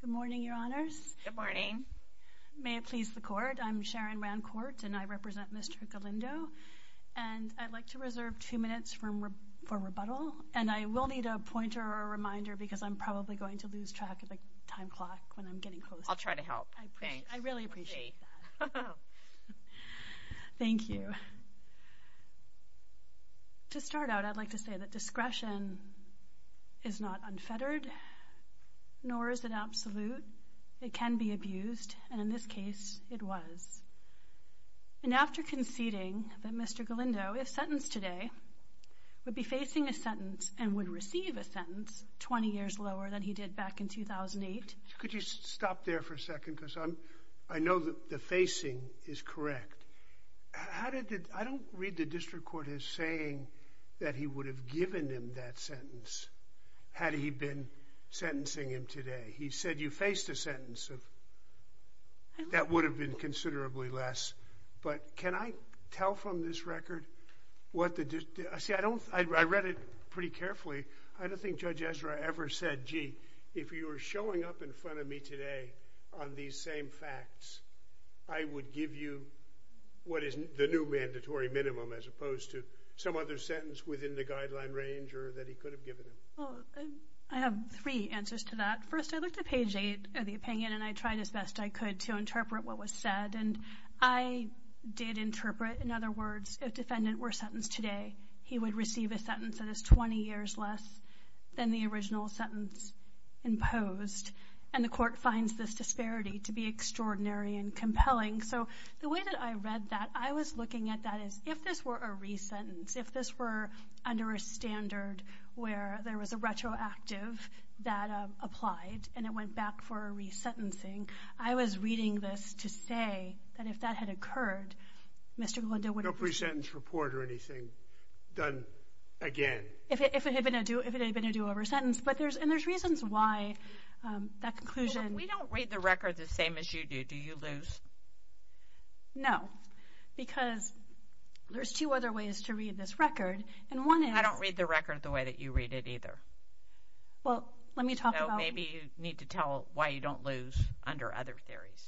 Good morning, your honors. Good morning. May it please the court, I'm Sharon Rancourt and I represent Mr. Galindo and I'd like to reserve two minutes for rebuttal and I will need a pointer or reminder because I'm probably going to lose track of the time clock when I'm getting close. I'll try to help. I really appreciate that. Thank you. To start out, I'd like to say that discretion is not unfettered nor is it absolute. It can be abused and in this case it was. And after conceding that Mr. Galindo, if sentenced today, would be facing a sentence and would receive a sentence 20 years lower than he did back in 2008. Could you stop there for a second because I know that the facing is correct. I don't read the given him that sentence had he been sentencing him today. He said you faced a sentence of that would have been considerably less. But can I tell from this record what the, I don't, I read it pretty carefully. I don't think Judge Ezra ever said, gee, if you were showing up in front of me today on these same facts, I would give you what is the new mandatory minimum as opposed to some other sentence within the guideline range or that he could have given him. I have three answers to that. First, I looked at page 8 of the opinion and I tried as best I could to interpret what was said. And I did interpret, in other words, if defendant were sentenced today, he would receive a sentence that is 20 years less than the original sentence imposed. And the court finds this disparity to be extraordinary and if this were a re-sentence, if this were under a standard where there was a retroactive that applied and it went back for a re-sentencing, I was reading this to say that if that had occurred, Mr. Glendale would have... No pre-sentence report or anything done again. If it had been a do-over sentence. But there's, and there's reasons why that conclusion... We don't read the record the same as you do. Do you lose? No. Because there's two other ways to read this record. And one is... I don't read the record the way that you read it either. Well, let me talk about... Maybe you need to tell why you don't lose under other theories.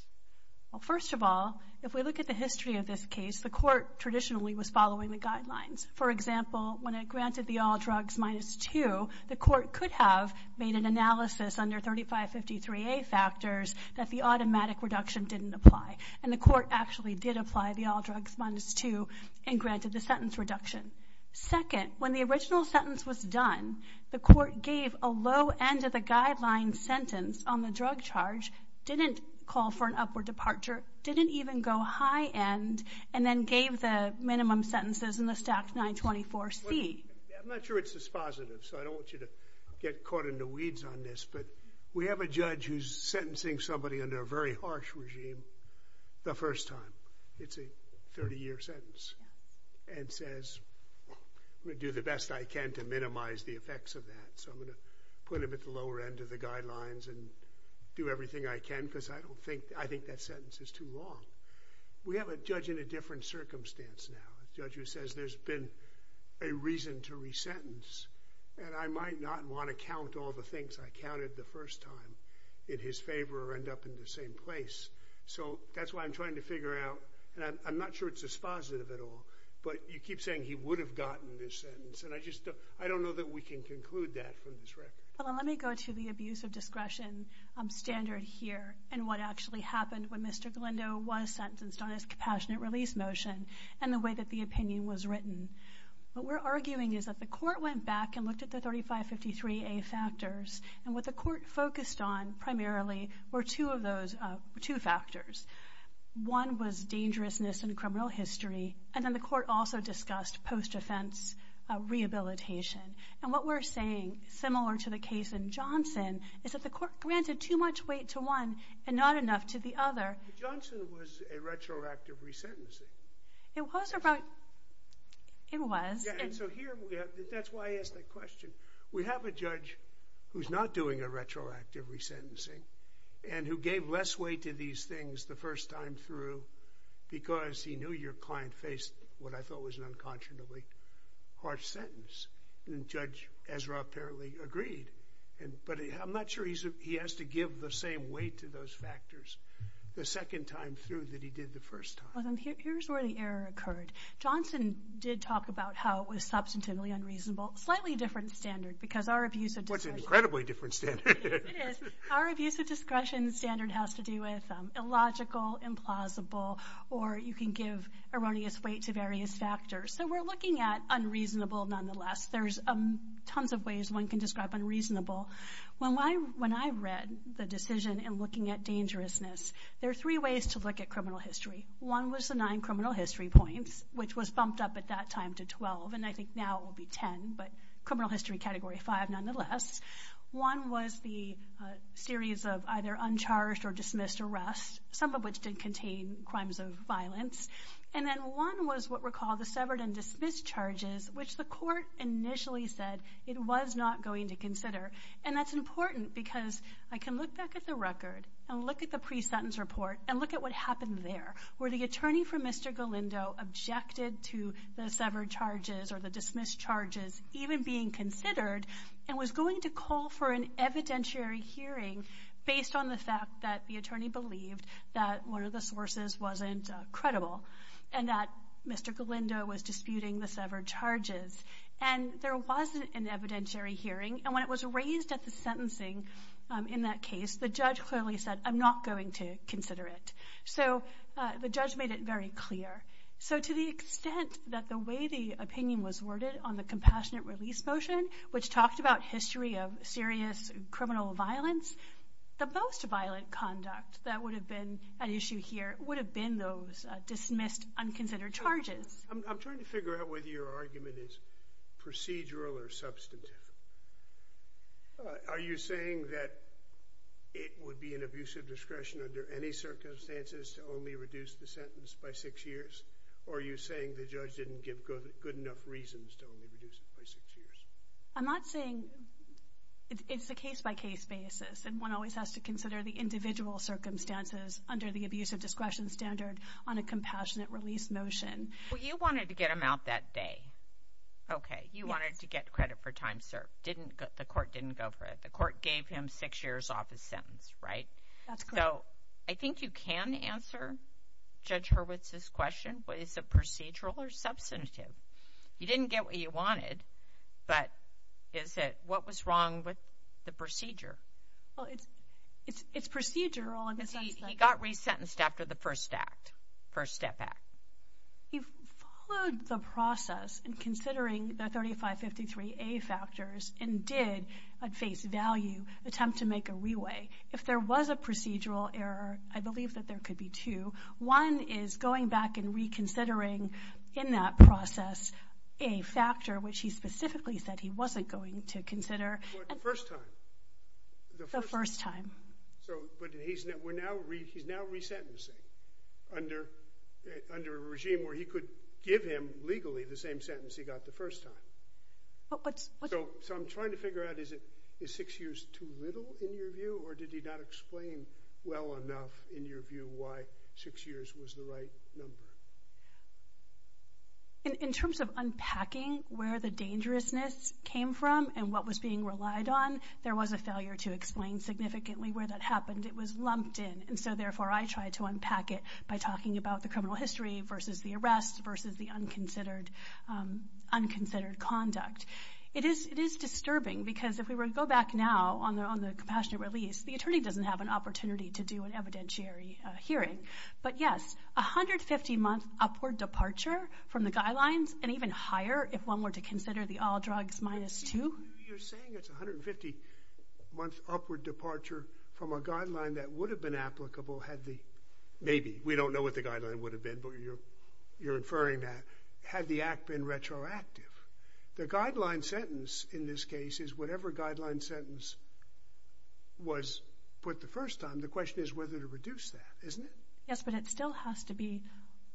Well, first of all, if we look at the history of this case, the court traditionally was following the guidelines. For example, when it granted the all drugs minus two, the court could have made an analysis under 3553A factors that the automatic reduction didn't apply. And the court actually did apply the all drugs minus two and granted the sentence reduction. Second, when the original sentence was done, the court gave a low end of the guideline sentence on the drug charge, didn't call for an upward departure, didn't even go high end, and then gave the minimum sentences in the stacked 924C. I'm not sure it's dispositive, so I don't want you to get caught in the weeds on this, but we have a judge who's sentencing somebody under a very harsh regime the first time. It's a 30 year sentence. And says, I'm going to do the best I can to minimize the effects of that. So I'm going to put him at the lower end of the guidelines and do everything I can because I think that sentence is too long. We have a judge in a different circumstance now. A judge who says there's been a reason to re-sentence and I might not want to count all the things I counted the first time in his favor or end up in the same place. So that's why I'm trying to figure out, and I'm not sure it's dispositive at all, but you keep saying he would have gotten this sentence and I just don't, I don't know that we can conclude that from this record. Well, let me go to the abuse of discretion standard here and what actually happened when Mr. Glendo was sentenced on his compassionate release motion and the way that the opinion was written. What we're arguing is that the court went back and looked at the 3553A factors and what the court focused on primarily were two of those, two factors. One was dangerousness in criminal history and then the court also discussed post-offense rehabilitation. And what we're saying, similar to the case in Johnson, is that the court granted too much weight to one and not the other. It was. That's why I asked that question. We have a judge who's not doing a retroactive re-sentencing and who gave less weight to these things the first time through because he knew your client faced what I thought was an unconscionably harsh sentence. And Judge Ezra apparently agreed. But I'm not sure he has to give the same weight to those factors the did talk about how it was substantively unreasonable. Slightly different standard because our abuse of discretion standard has to do with illogical, implausible, or you can give erroneous weight to various factors. So we're looking at unreasonable nonetheless. There's tons of ways one can describe unreasonable. When I read the decision and looking at dangerousness, there are three ways to look at criminal history. One was the nine criminal history points, which was bumped up at that time to 12. And I think now it will be 10. But criminal history category 5 nonetheless. One was the series of either uncharged or dismissed arrests, some of which did contain crimes of violence. And then one was what were called the severed and dismissed charges, which the court initially said it was not going to consider. And that's important because I can look back at the record and look at the pre-sentence report and look at what happened there, where the attorney for Mr. Galindo objected to the severed charges or the dismissed charges even being considered and was going to call for an evidentiary hearing based on the fact that the attorney believed that one of the sources wasn't credible and that Mr. Galindo was disputing the severed charges. And there wasn't an evidentiary hearing. And when it was So the judge made it very clear. So to the extent that the way the opinion was worded on the compassionate release motion, which talked about history of serious criminal violence, the most violent conduct that would have been an issue here would have been those dismissed, unconsidered charges. I'm trying to figure out whether your argument is procedural or substantive. Are you saying that it would be an abuse of discretion under any circumstances to only reduce the sentence by six years? Or are you saying the judge didn't give good enough reasons to only reduce it by six years? I'm not saying it's a case-by-case basis. And one always has to consider the individual circumstances under the abuse of discretion standard on a compassionate release motion. Well, you wanted to get him out that day. Okay. You wanted to get credit for time served. Didn't, the court didn't go for it. The court gave him six years off his sentence, right? That's correct. So I think you can answer Judge Hurwitz's question, but is it procedural or substantive? You didn't get what you wanted, but is it, what was wrong with the procedure? Well, it's, it's, it's procedural. He got re-sentenced after the first act, first step act. He followed the process in considering the 3553A factors and did, at face value, attempt to make a re-weigh. If there was a procedural error, I believe that there could be two. One is going back and reconsidering in that process a factor which he specifically said he wasn't going to consider. For the first time. The first time. So, but he's, we're now re, he's now re-sentencing under, under a regime where he could give him legally the same sentence he got the first time. But, but. So, so I'm trying to figure out is it, is six years too little in your view or did he not explain well enough in your view why six years was the right number? In, in terms of unpacking where the dangerousness came from and what was being relied on, there was a failure to explain significantly where that happened. It was lumped in and so therefore I tried to unpack it by talking about the criminal history versus the arrest versus the unconsidered, unconsidered conduct. It is, it is disturbing because if we were to go back now on the, on the compassionate release, the attorney doesn't have an opportunity to do an evidentiary hearing. But yes, a hundred fifty month upward departure from the guidelines and even higher if one were to consider the all drugs minus two. You're saying it's a hundred fifty month upward departure from a guideline that would have been applicable had the, maybe, we don't know what the guideline would have been, but you're, you're inferring that, had the act been retroactive. The guideline sentence in this case is whatever guideline sentence was put the first time, the question is whether to reduce that, isn't it? Yes, but it still has to be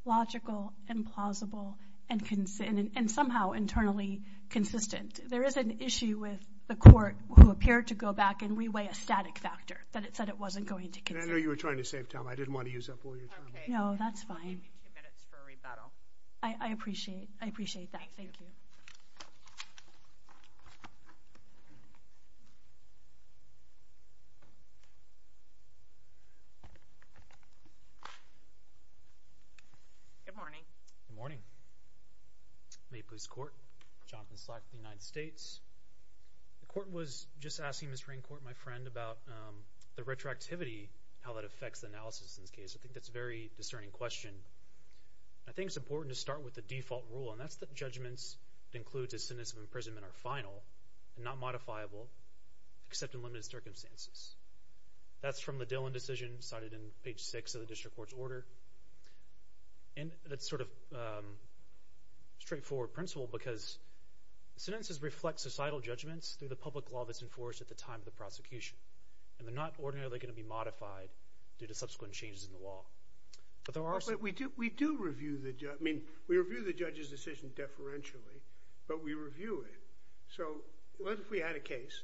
logical and plausible and consistent and somehow internally consistent. There is an issue with the court who appeared to go back and reweigh a static factor that it said it wasn't going to consider. I know you were trying to save time. I didn't want to use up all your time. No, that's fine. I appreciate, I appreciate that. Thank you. Good morning. Good morning. Maple Leafs Court, Jonathan Slack, United States. The court was just asking Ms. Raincourt, my friend, about the retroactivity, how that affects the analysis in this case. I think that's a very discerning question. I think it's important to start with the default rule and that's that judgments that includes a sentence of imprisonment are final, not modifiable, except in limited circumstances. That's from the Dillon decision cited in page six of the district court's order and that's sort of straightforward principle because sentences reflect societal judgments through the public law that's enforced at the time of the prosecution and they're not ordinarily going to be modified due to subsequent changes in the law. But there was a case,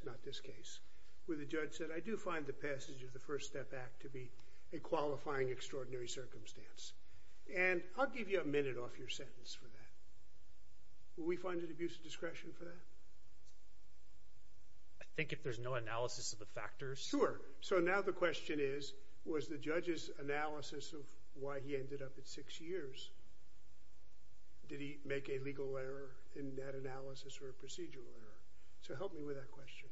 not this case, where the judge said I do find the passage of the First Step Act to be a qualifying extraordinary circumstance and I'll give you a minute off your sentence for that. Will we find an abuse of discretion for that? I think if there's no analysis of the factors. Sure. So now the question is was the judge's analysis of why he ended up at six years, did he make a analysis or a procedural error? So help me with that question.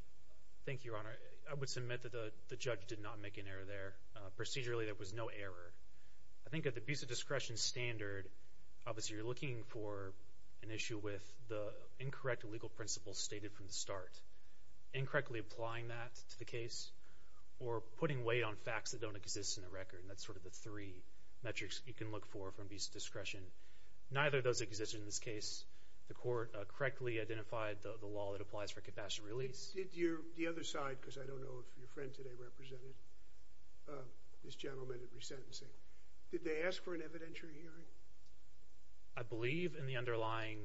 Thank you, Your Honor. I would submit that the judge did not make an error there. Procedurally there was no error. I think at the abuse of discretion standard, obviously you're looking for an issue with the incorrect legal principles stated from the start. Incorrectly applying that to the case or putting weight on facts that don't exist in the record. That's sort of the three metrics you can look for from abuse of discretion. Neither does exist in this case. The court correctly identified the law that applies for capacitive release. The other side, because I don't know if your friend today represented this gentleman at resentencing, did they ask for an evidentiary hearing? I believe in the underlying...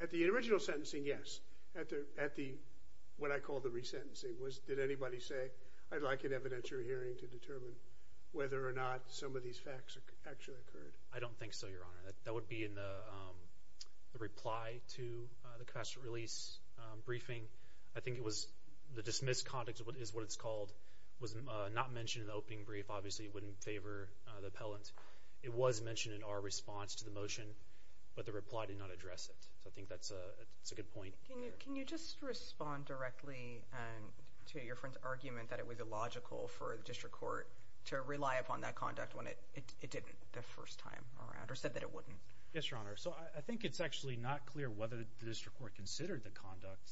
At the original sentencing, yes. At the, what I call the resentencing, was did anybody say I'd like an evidentiary hearing to determine whether or not some of these facts actually occurred? I don't think so, Your Honor. That would be in the reply to the capacitive release briefing. I think it was the dismissed conduct, is what it's called, was not mentioned in the opening brief. Obviously it wouldn't favor the appellant. It was mentioned in our response to the motion, but the reply did not address it. I think that's a good point. Can you just respond directly to your friend's argument that it was illogical for the district court to rely upon that conduct when it didn't the first time around, or said that it wouldn't? Yes, Your Honor. So I think it's actually not clear whether the district court considered the conduct.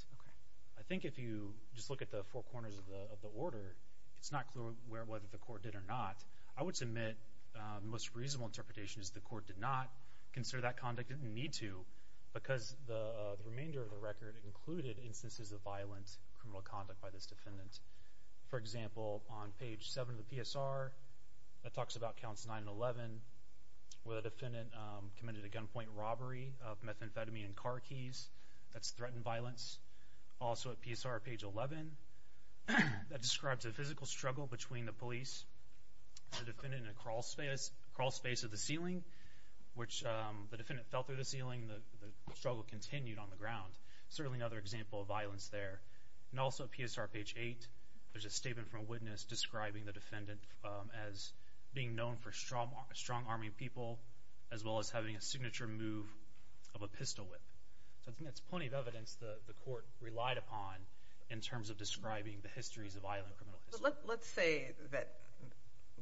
I think if you just look at the four corners of the order, it's not clear whether the court did or not. I would submit the most reasonable interpretation is the court did not consider that conduct, didn't need to, because the remainder of the record included instances of violent criminal conduct by this defendant. For example, on page 7 of the PSR, that talks about counts 9 and 11, where the defendant committed a gunpoint robbery of methamphetamine and car keys. That's threatened violence. Also at PSR, page 11, that describes a physical struggle between the police, the defendant in a crawlspace, crawlspace of the ceiling, which the defendant fell through the ceiling, the struggle continued on the ground. Certainly another example of violence there. And also at PSR, page 8, there's a statement from a witness describing the defendant as being known for strong-arming people, as well as having a signature move of a pistol whip. That's plenty of evidence the court relied upon in terms of describing the histories of violent criminal history. But let's say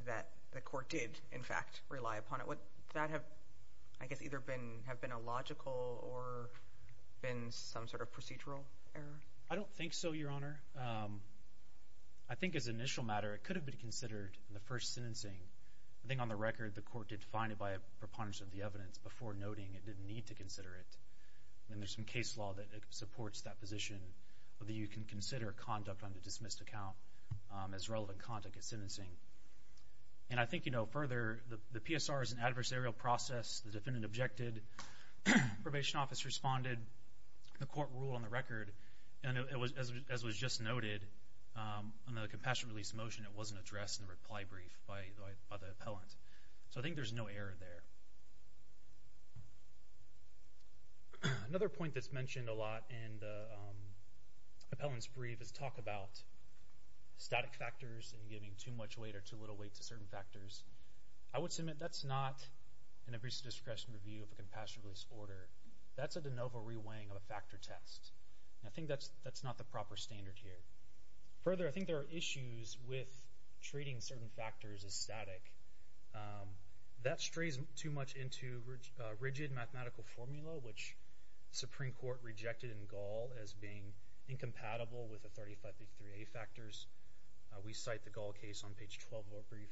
that the court did, in fact, rely upon it. Would that have, I guess, either been a logical or been some sort of procedural error? I don't think so, Your Honor. I think as an initial matter, it could have been considered in the first sentencing. I think on the record, the court did find it by a preponderance of the evidence before noting it didn't need to consider it. And there's some case law that supports that position, whether you can consider conduct on the dismissed account as relevant conduct at sentencing. And I think, you know, further, the PSR is an objected. The probation office responded. The court ruled on the record. And as was just noted, on the compassionate release motion, it wasn't addressed in the reply brief by the appellant. So I think there's no error there. Another point that's mentioned a lot in the appellant's brief is talk about static factors and giving too much weight or too little weight to certain factors. I would submit that's not an abusive discretionary view of a compassionate release order. That's a de novo reweighing of a factor test. I think that's not the proper standard here. Further, I think there are issues with treating certain factors as static. That strays too much into rigid mathematical formula, which the Supreme Court rejected in Gall as being incompatible with the 3553A factors. We cite the Gall case on page 12 of our brief.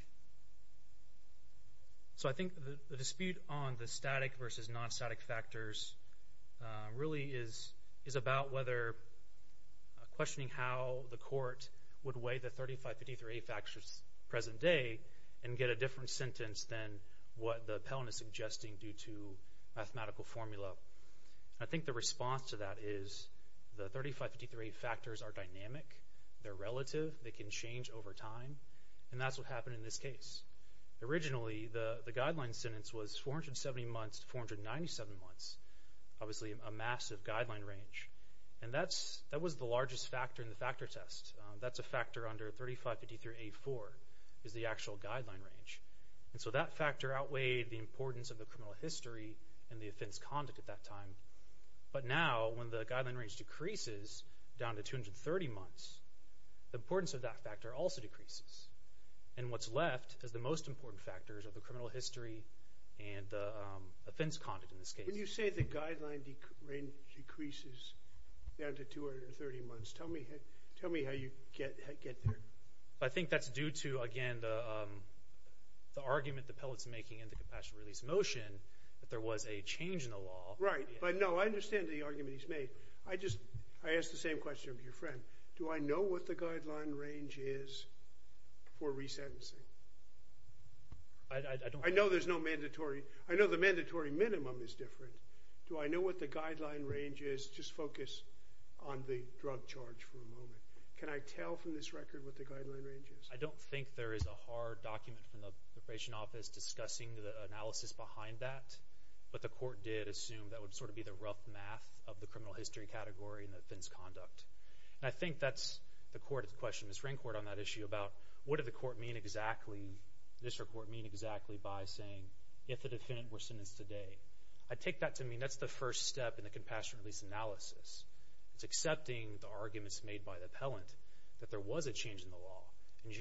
So I think the dispute on the static versus non-static factors really is about whether questioning how the court would weigh the 3553A factors present day and get a different sentence than what the appellant is They're relative. They can change over time. And that's what happened in this case. Originally, the guideline sentence was 470 months to 497 months, obviously a massive guideline range. And that was the largest factor in the factor test. That's a factor under 3553A4 is the actual guideline range. And so that factor outweighed the importance of the criminal history and the 30 months. The importance of that factor also decreases. And what's left is the most important factors of the criminal history and the offense conduct in this case. When you say the guideline range decreases down to 230 months, tell me how you get there. I think that's due to, again, the argument the appellant's making in the compassion release motion that there was a change in the law. Right. But no, I understand the argument he's made. I just, I asked the same question of your friend. Do I know what the guideline range is for resentencing? I know there's no mandatory, I know the mandatory minimum is different. Do I know what the guideline range is? Just focus on the drug charge for a moment. Can I tell from this record what the guideline range is? I don't think there is a hard document from the preparation office discussing the analysis behind that. But the court did assume that would sort of be the rough math of the criminal history category and the offense conduct. And I think that's the core of the question. Ms. Rancourt on that issue about what did the court mean exactly, this report mean exactly by saying if the defendant were sentenced today. I take that to mean that's the first step in the compassion release analysis. It's accepting the arguments made by the appellant that there was a change in the law. And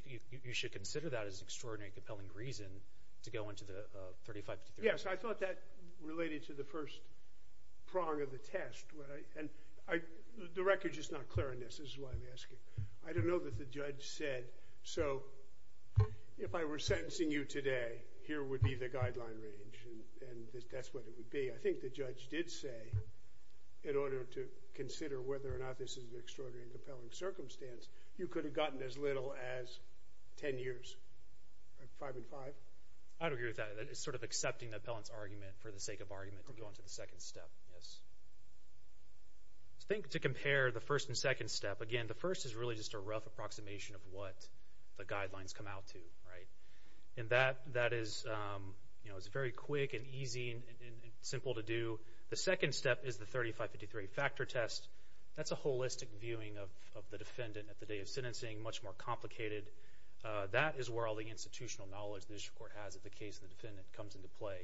you should consider that as an extraordinary and compelling reason to go into the 35 to 33. Yes, I thought that related to the first prong of the test. The record is just not clear on this. This is why I'm asking. I don't know that the judge said, so if I were sentencing you today, here would be the guideline range. And that's what it would be. I think the judge did say in order to consider whether or not this is an extraordinary and compelling circumstance, you could have gotten as little as 10 years, five and five. I don't agree with that. It's sort of accepting the appellant's argument for the sake of argument going to the second step. Yes, I think to compare the first and second step again, the first is really just a rough approximation of what the guidelines come out to, right? And that that is, you know, it's very quick and easy and simple to do. The second step is the 35 to 33 factor test. That's a holistic viewing of the defendant at the day of sentencing. Much more complicated. That is where all the institutional knowledge the district court has of the case of the defendant comes into play.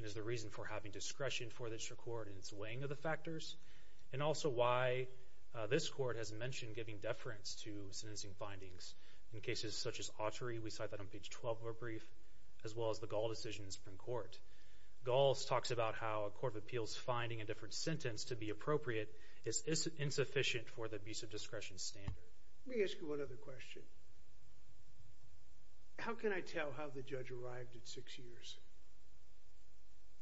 It is the reason for having discretion for the district court in its weighing of the factors, and also why this court has mentioned giving deference to sentencing findings in cases such as Autry. We cite that on page 12 of our brief, as well as the Gaul decision in the Supreme Court. Gaul talks about how a court of appeals finding a different sentence to be appropriate is insufficient for the abuse of discretion standard. Let me ask you one other question. How can I tell how the judge arrived at six years?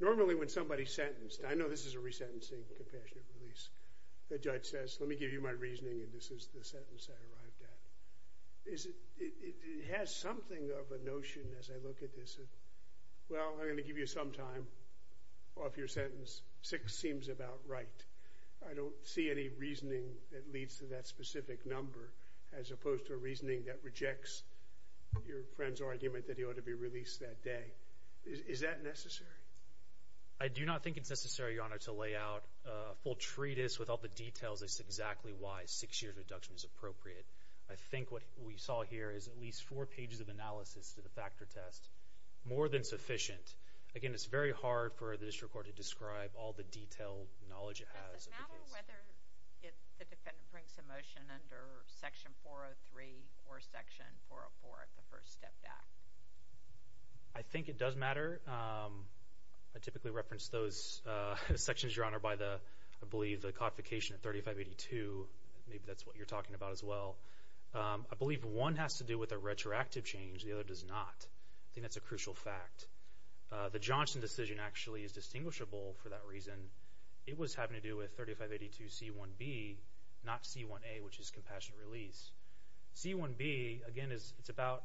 Normally, when somebody's sentenced, I know this is a resentencing compassionate release, the judge says, let me give you my reasoning, and this is the sentence I arrived at. It has something of a notion as I look at this. Well, I'm going to give you some time off your sentence. Six seems about right. I don't see any reasoning that leads to that specific number, as opposed to a reasoning that rejects your friend's argument that he ought to be released that day. Is that necessary? I do not think it's necessary, Your Honor, to lay out a full treatise with all the details. This is exactly why a six-year deduction is appropriate. I think what we saw here is at least four pages of analysis to the factor test. More than sufficient. Again, it's very hard for the knowledge it has. I think it does matter. I typically reference those sections, Your Honor, by the, I believe, the codification of 3582. Maybe that's what you're talking about as well. I believe one has to do with a retroactive change. The other does not. I think that's a it was having to do with 3582C1B, not C1A, which is compassionate release. C1B, again, is it's about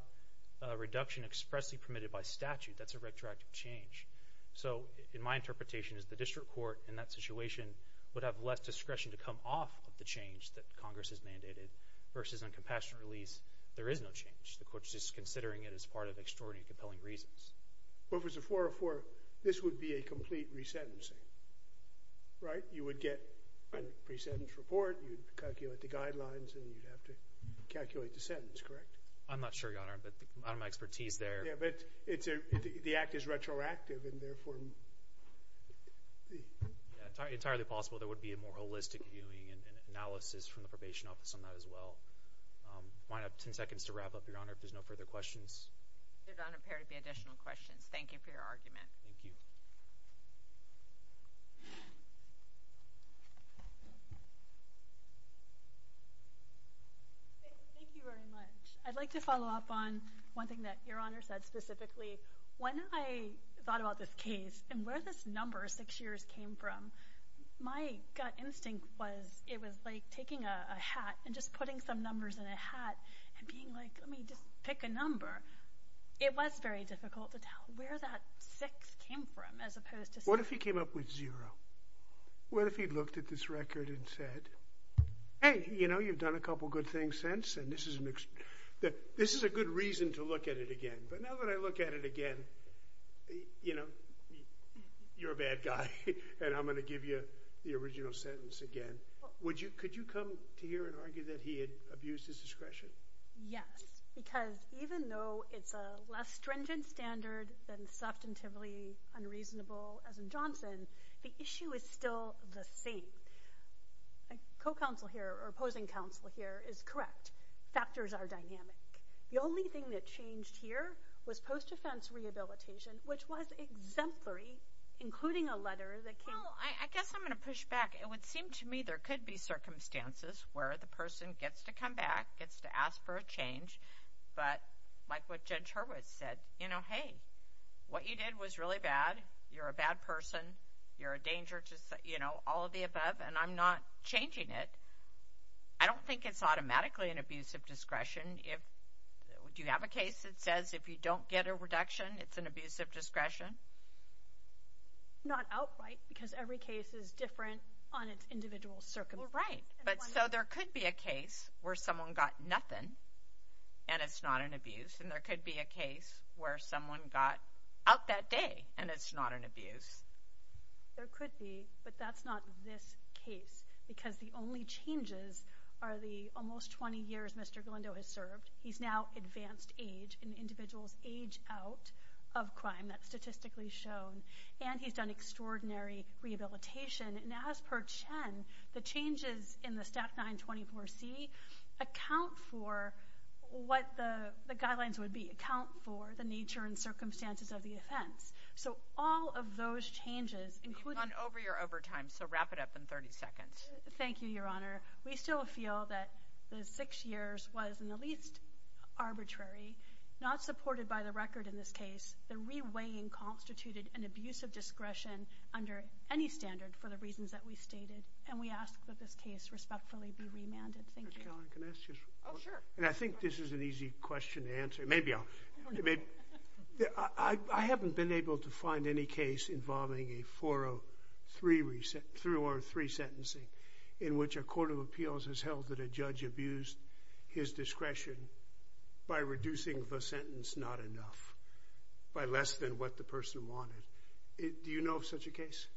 a reduction expressly permitted by statute. That's a retroactive change. So, in my interpretation, is the district court in that situation would have less discretion to come off of the change that Congress has mandated versus uncompassionate release. There is no change. The court's just considering it as part of extraordinary compelling reasons. Well, if it's a 404, this would be a complete resentencing, right? You would get a pre-sentence report, you'd calculate the guidelines, and you'd have to calculate the sentence, correct? I'm not sure, Your Honor, but out of my expertise there. Yeah, but it's a, the act is retroactive and therefore... Entirely possible. There would be a more holistic viewing and analysis from the probation office on that as well. I might have 10 seconds to wrap up, Your Honor, if there's no further questions. Your Honor, there would be additional questions. Thank you for your argument. Thank you. Thank you very much. I'd like to follow up on one thing that Your Honor said specifically. When I thought about this case and where this number, six years, came from, my gut instinct was it was like taking a hat and just putting some numbers in a hat and being like, I mean, pick a number. It was very difficult to tell where that six came from as opposed to... What if he came up with zero? What if he looked at this record and said, hey, you know, you've done a couple of good things since and this is a good reason to look at it again, but now that I look at it again, you know, you're a bad guy and I'm going to give you the original sentence again. Could you come to here and argue that he had abused his discretion? Yes, because even though it's a less stringent standard than substantively unreasonable as in Johnson, the issue is still the same. A co-counsel here or opposing counsel here is correct. Factors are dynamic. The only thing that changed here was post-offense rehabilitation, which was exemplary, including a letter that came... Well, I guess I'm going to push back. It would seem to me there could be circumstances where the person gets to come back, gets to ask for a change, but like what Judge Hurwitz said, you know, hey, what you did was really bad. You're a bad person. You're a danger to, you know, all of the above, and I'm not changing it. I don't think it's automatically an abuse of discretion. Do you have a case that says if you don't get a reduction, it's an abuse of discretion? Not outright because every case is different on its individual circumstances. Right, but so there could be a case where someone got nothing and it's not an abuse, and there could be a case where someone got out that day and it's not an abuse. There could be, but that's not this case because the only changes are the almost 20 years Mr. Glendo has served. He's now advanced age and individuals age out of crime. That's statistically shown, and he's done extraordinary rehabilitation, and as per Chen, the changes in the Staff 924C account for what the guidelines would be, account for the nature and circumstances of the offense. So all of those changes, including— You've gone over your overtime, so wrap it up in 30 seconds. Thank you, Your Honor. We still feel that the six years was in the least abuse of discretion under any standard for the reasons that we stated, and we ask that this case respectfully be remanded. Thank you. Mr. Kelley, can I ask you a question? Oh, sure. And I think this is an easy question to answer. Maybe I'll—I haven't been able to find any case involving a 403 sentencing in which a court of appeals has held that a judge abused his discretion by reducing the sentence not enough, by less than what the person wanted. Do you know of such a case?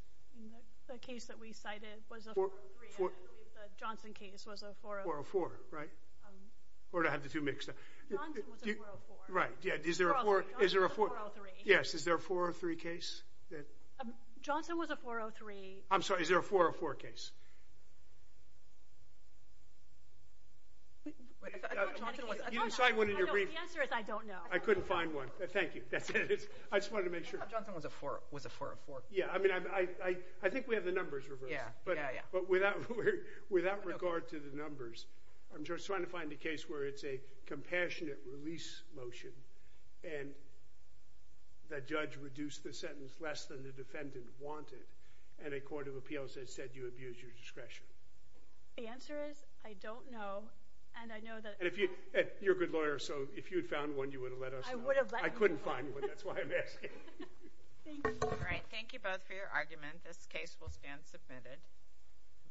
The case that we cited was a 403. I believe the Johnson case was a 403. 404, right? Or did I have the two mixed up? Johnson was a 404. Right, yeah. Is there a 403 case? Johnson was a 403. I'm sorry, is there a 404 case? Wait, I thought Johnson was— You didn't cite one in your brief. The answer is I don't know. I couldn't find one. Thank you. That's it. I just wanted to make sure. Johnson was a 404. Yeah, I mean, I think we have the numbers reversed. Yeah, yeah, yeah. But without regard to the numbers, I'm just trying to find a case where it's a compassionate release motion and the judge reduced the sentence less than the defendant wanted and a court of appeals has said you abused your discretion. The answer is I don't know, and I know that— And if you—you're a good lawyer, so if you had found one, you would have let us know. I would have let you know. I couldn't find one. That's why I'm asking. Thank you. All right, thank you both for your argument. This case will stand submitted.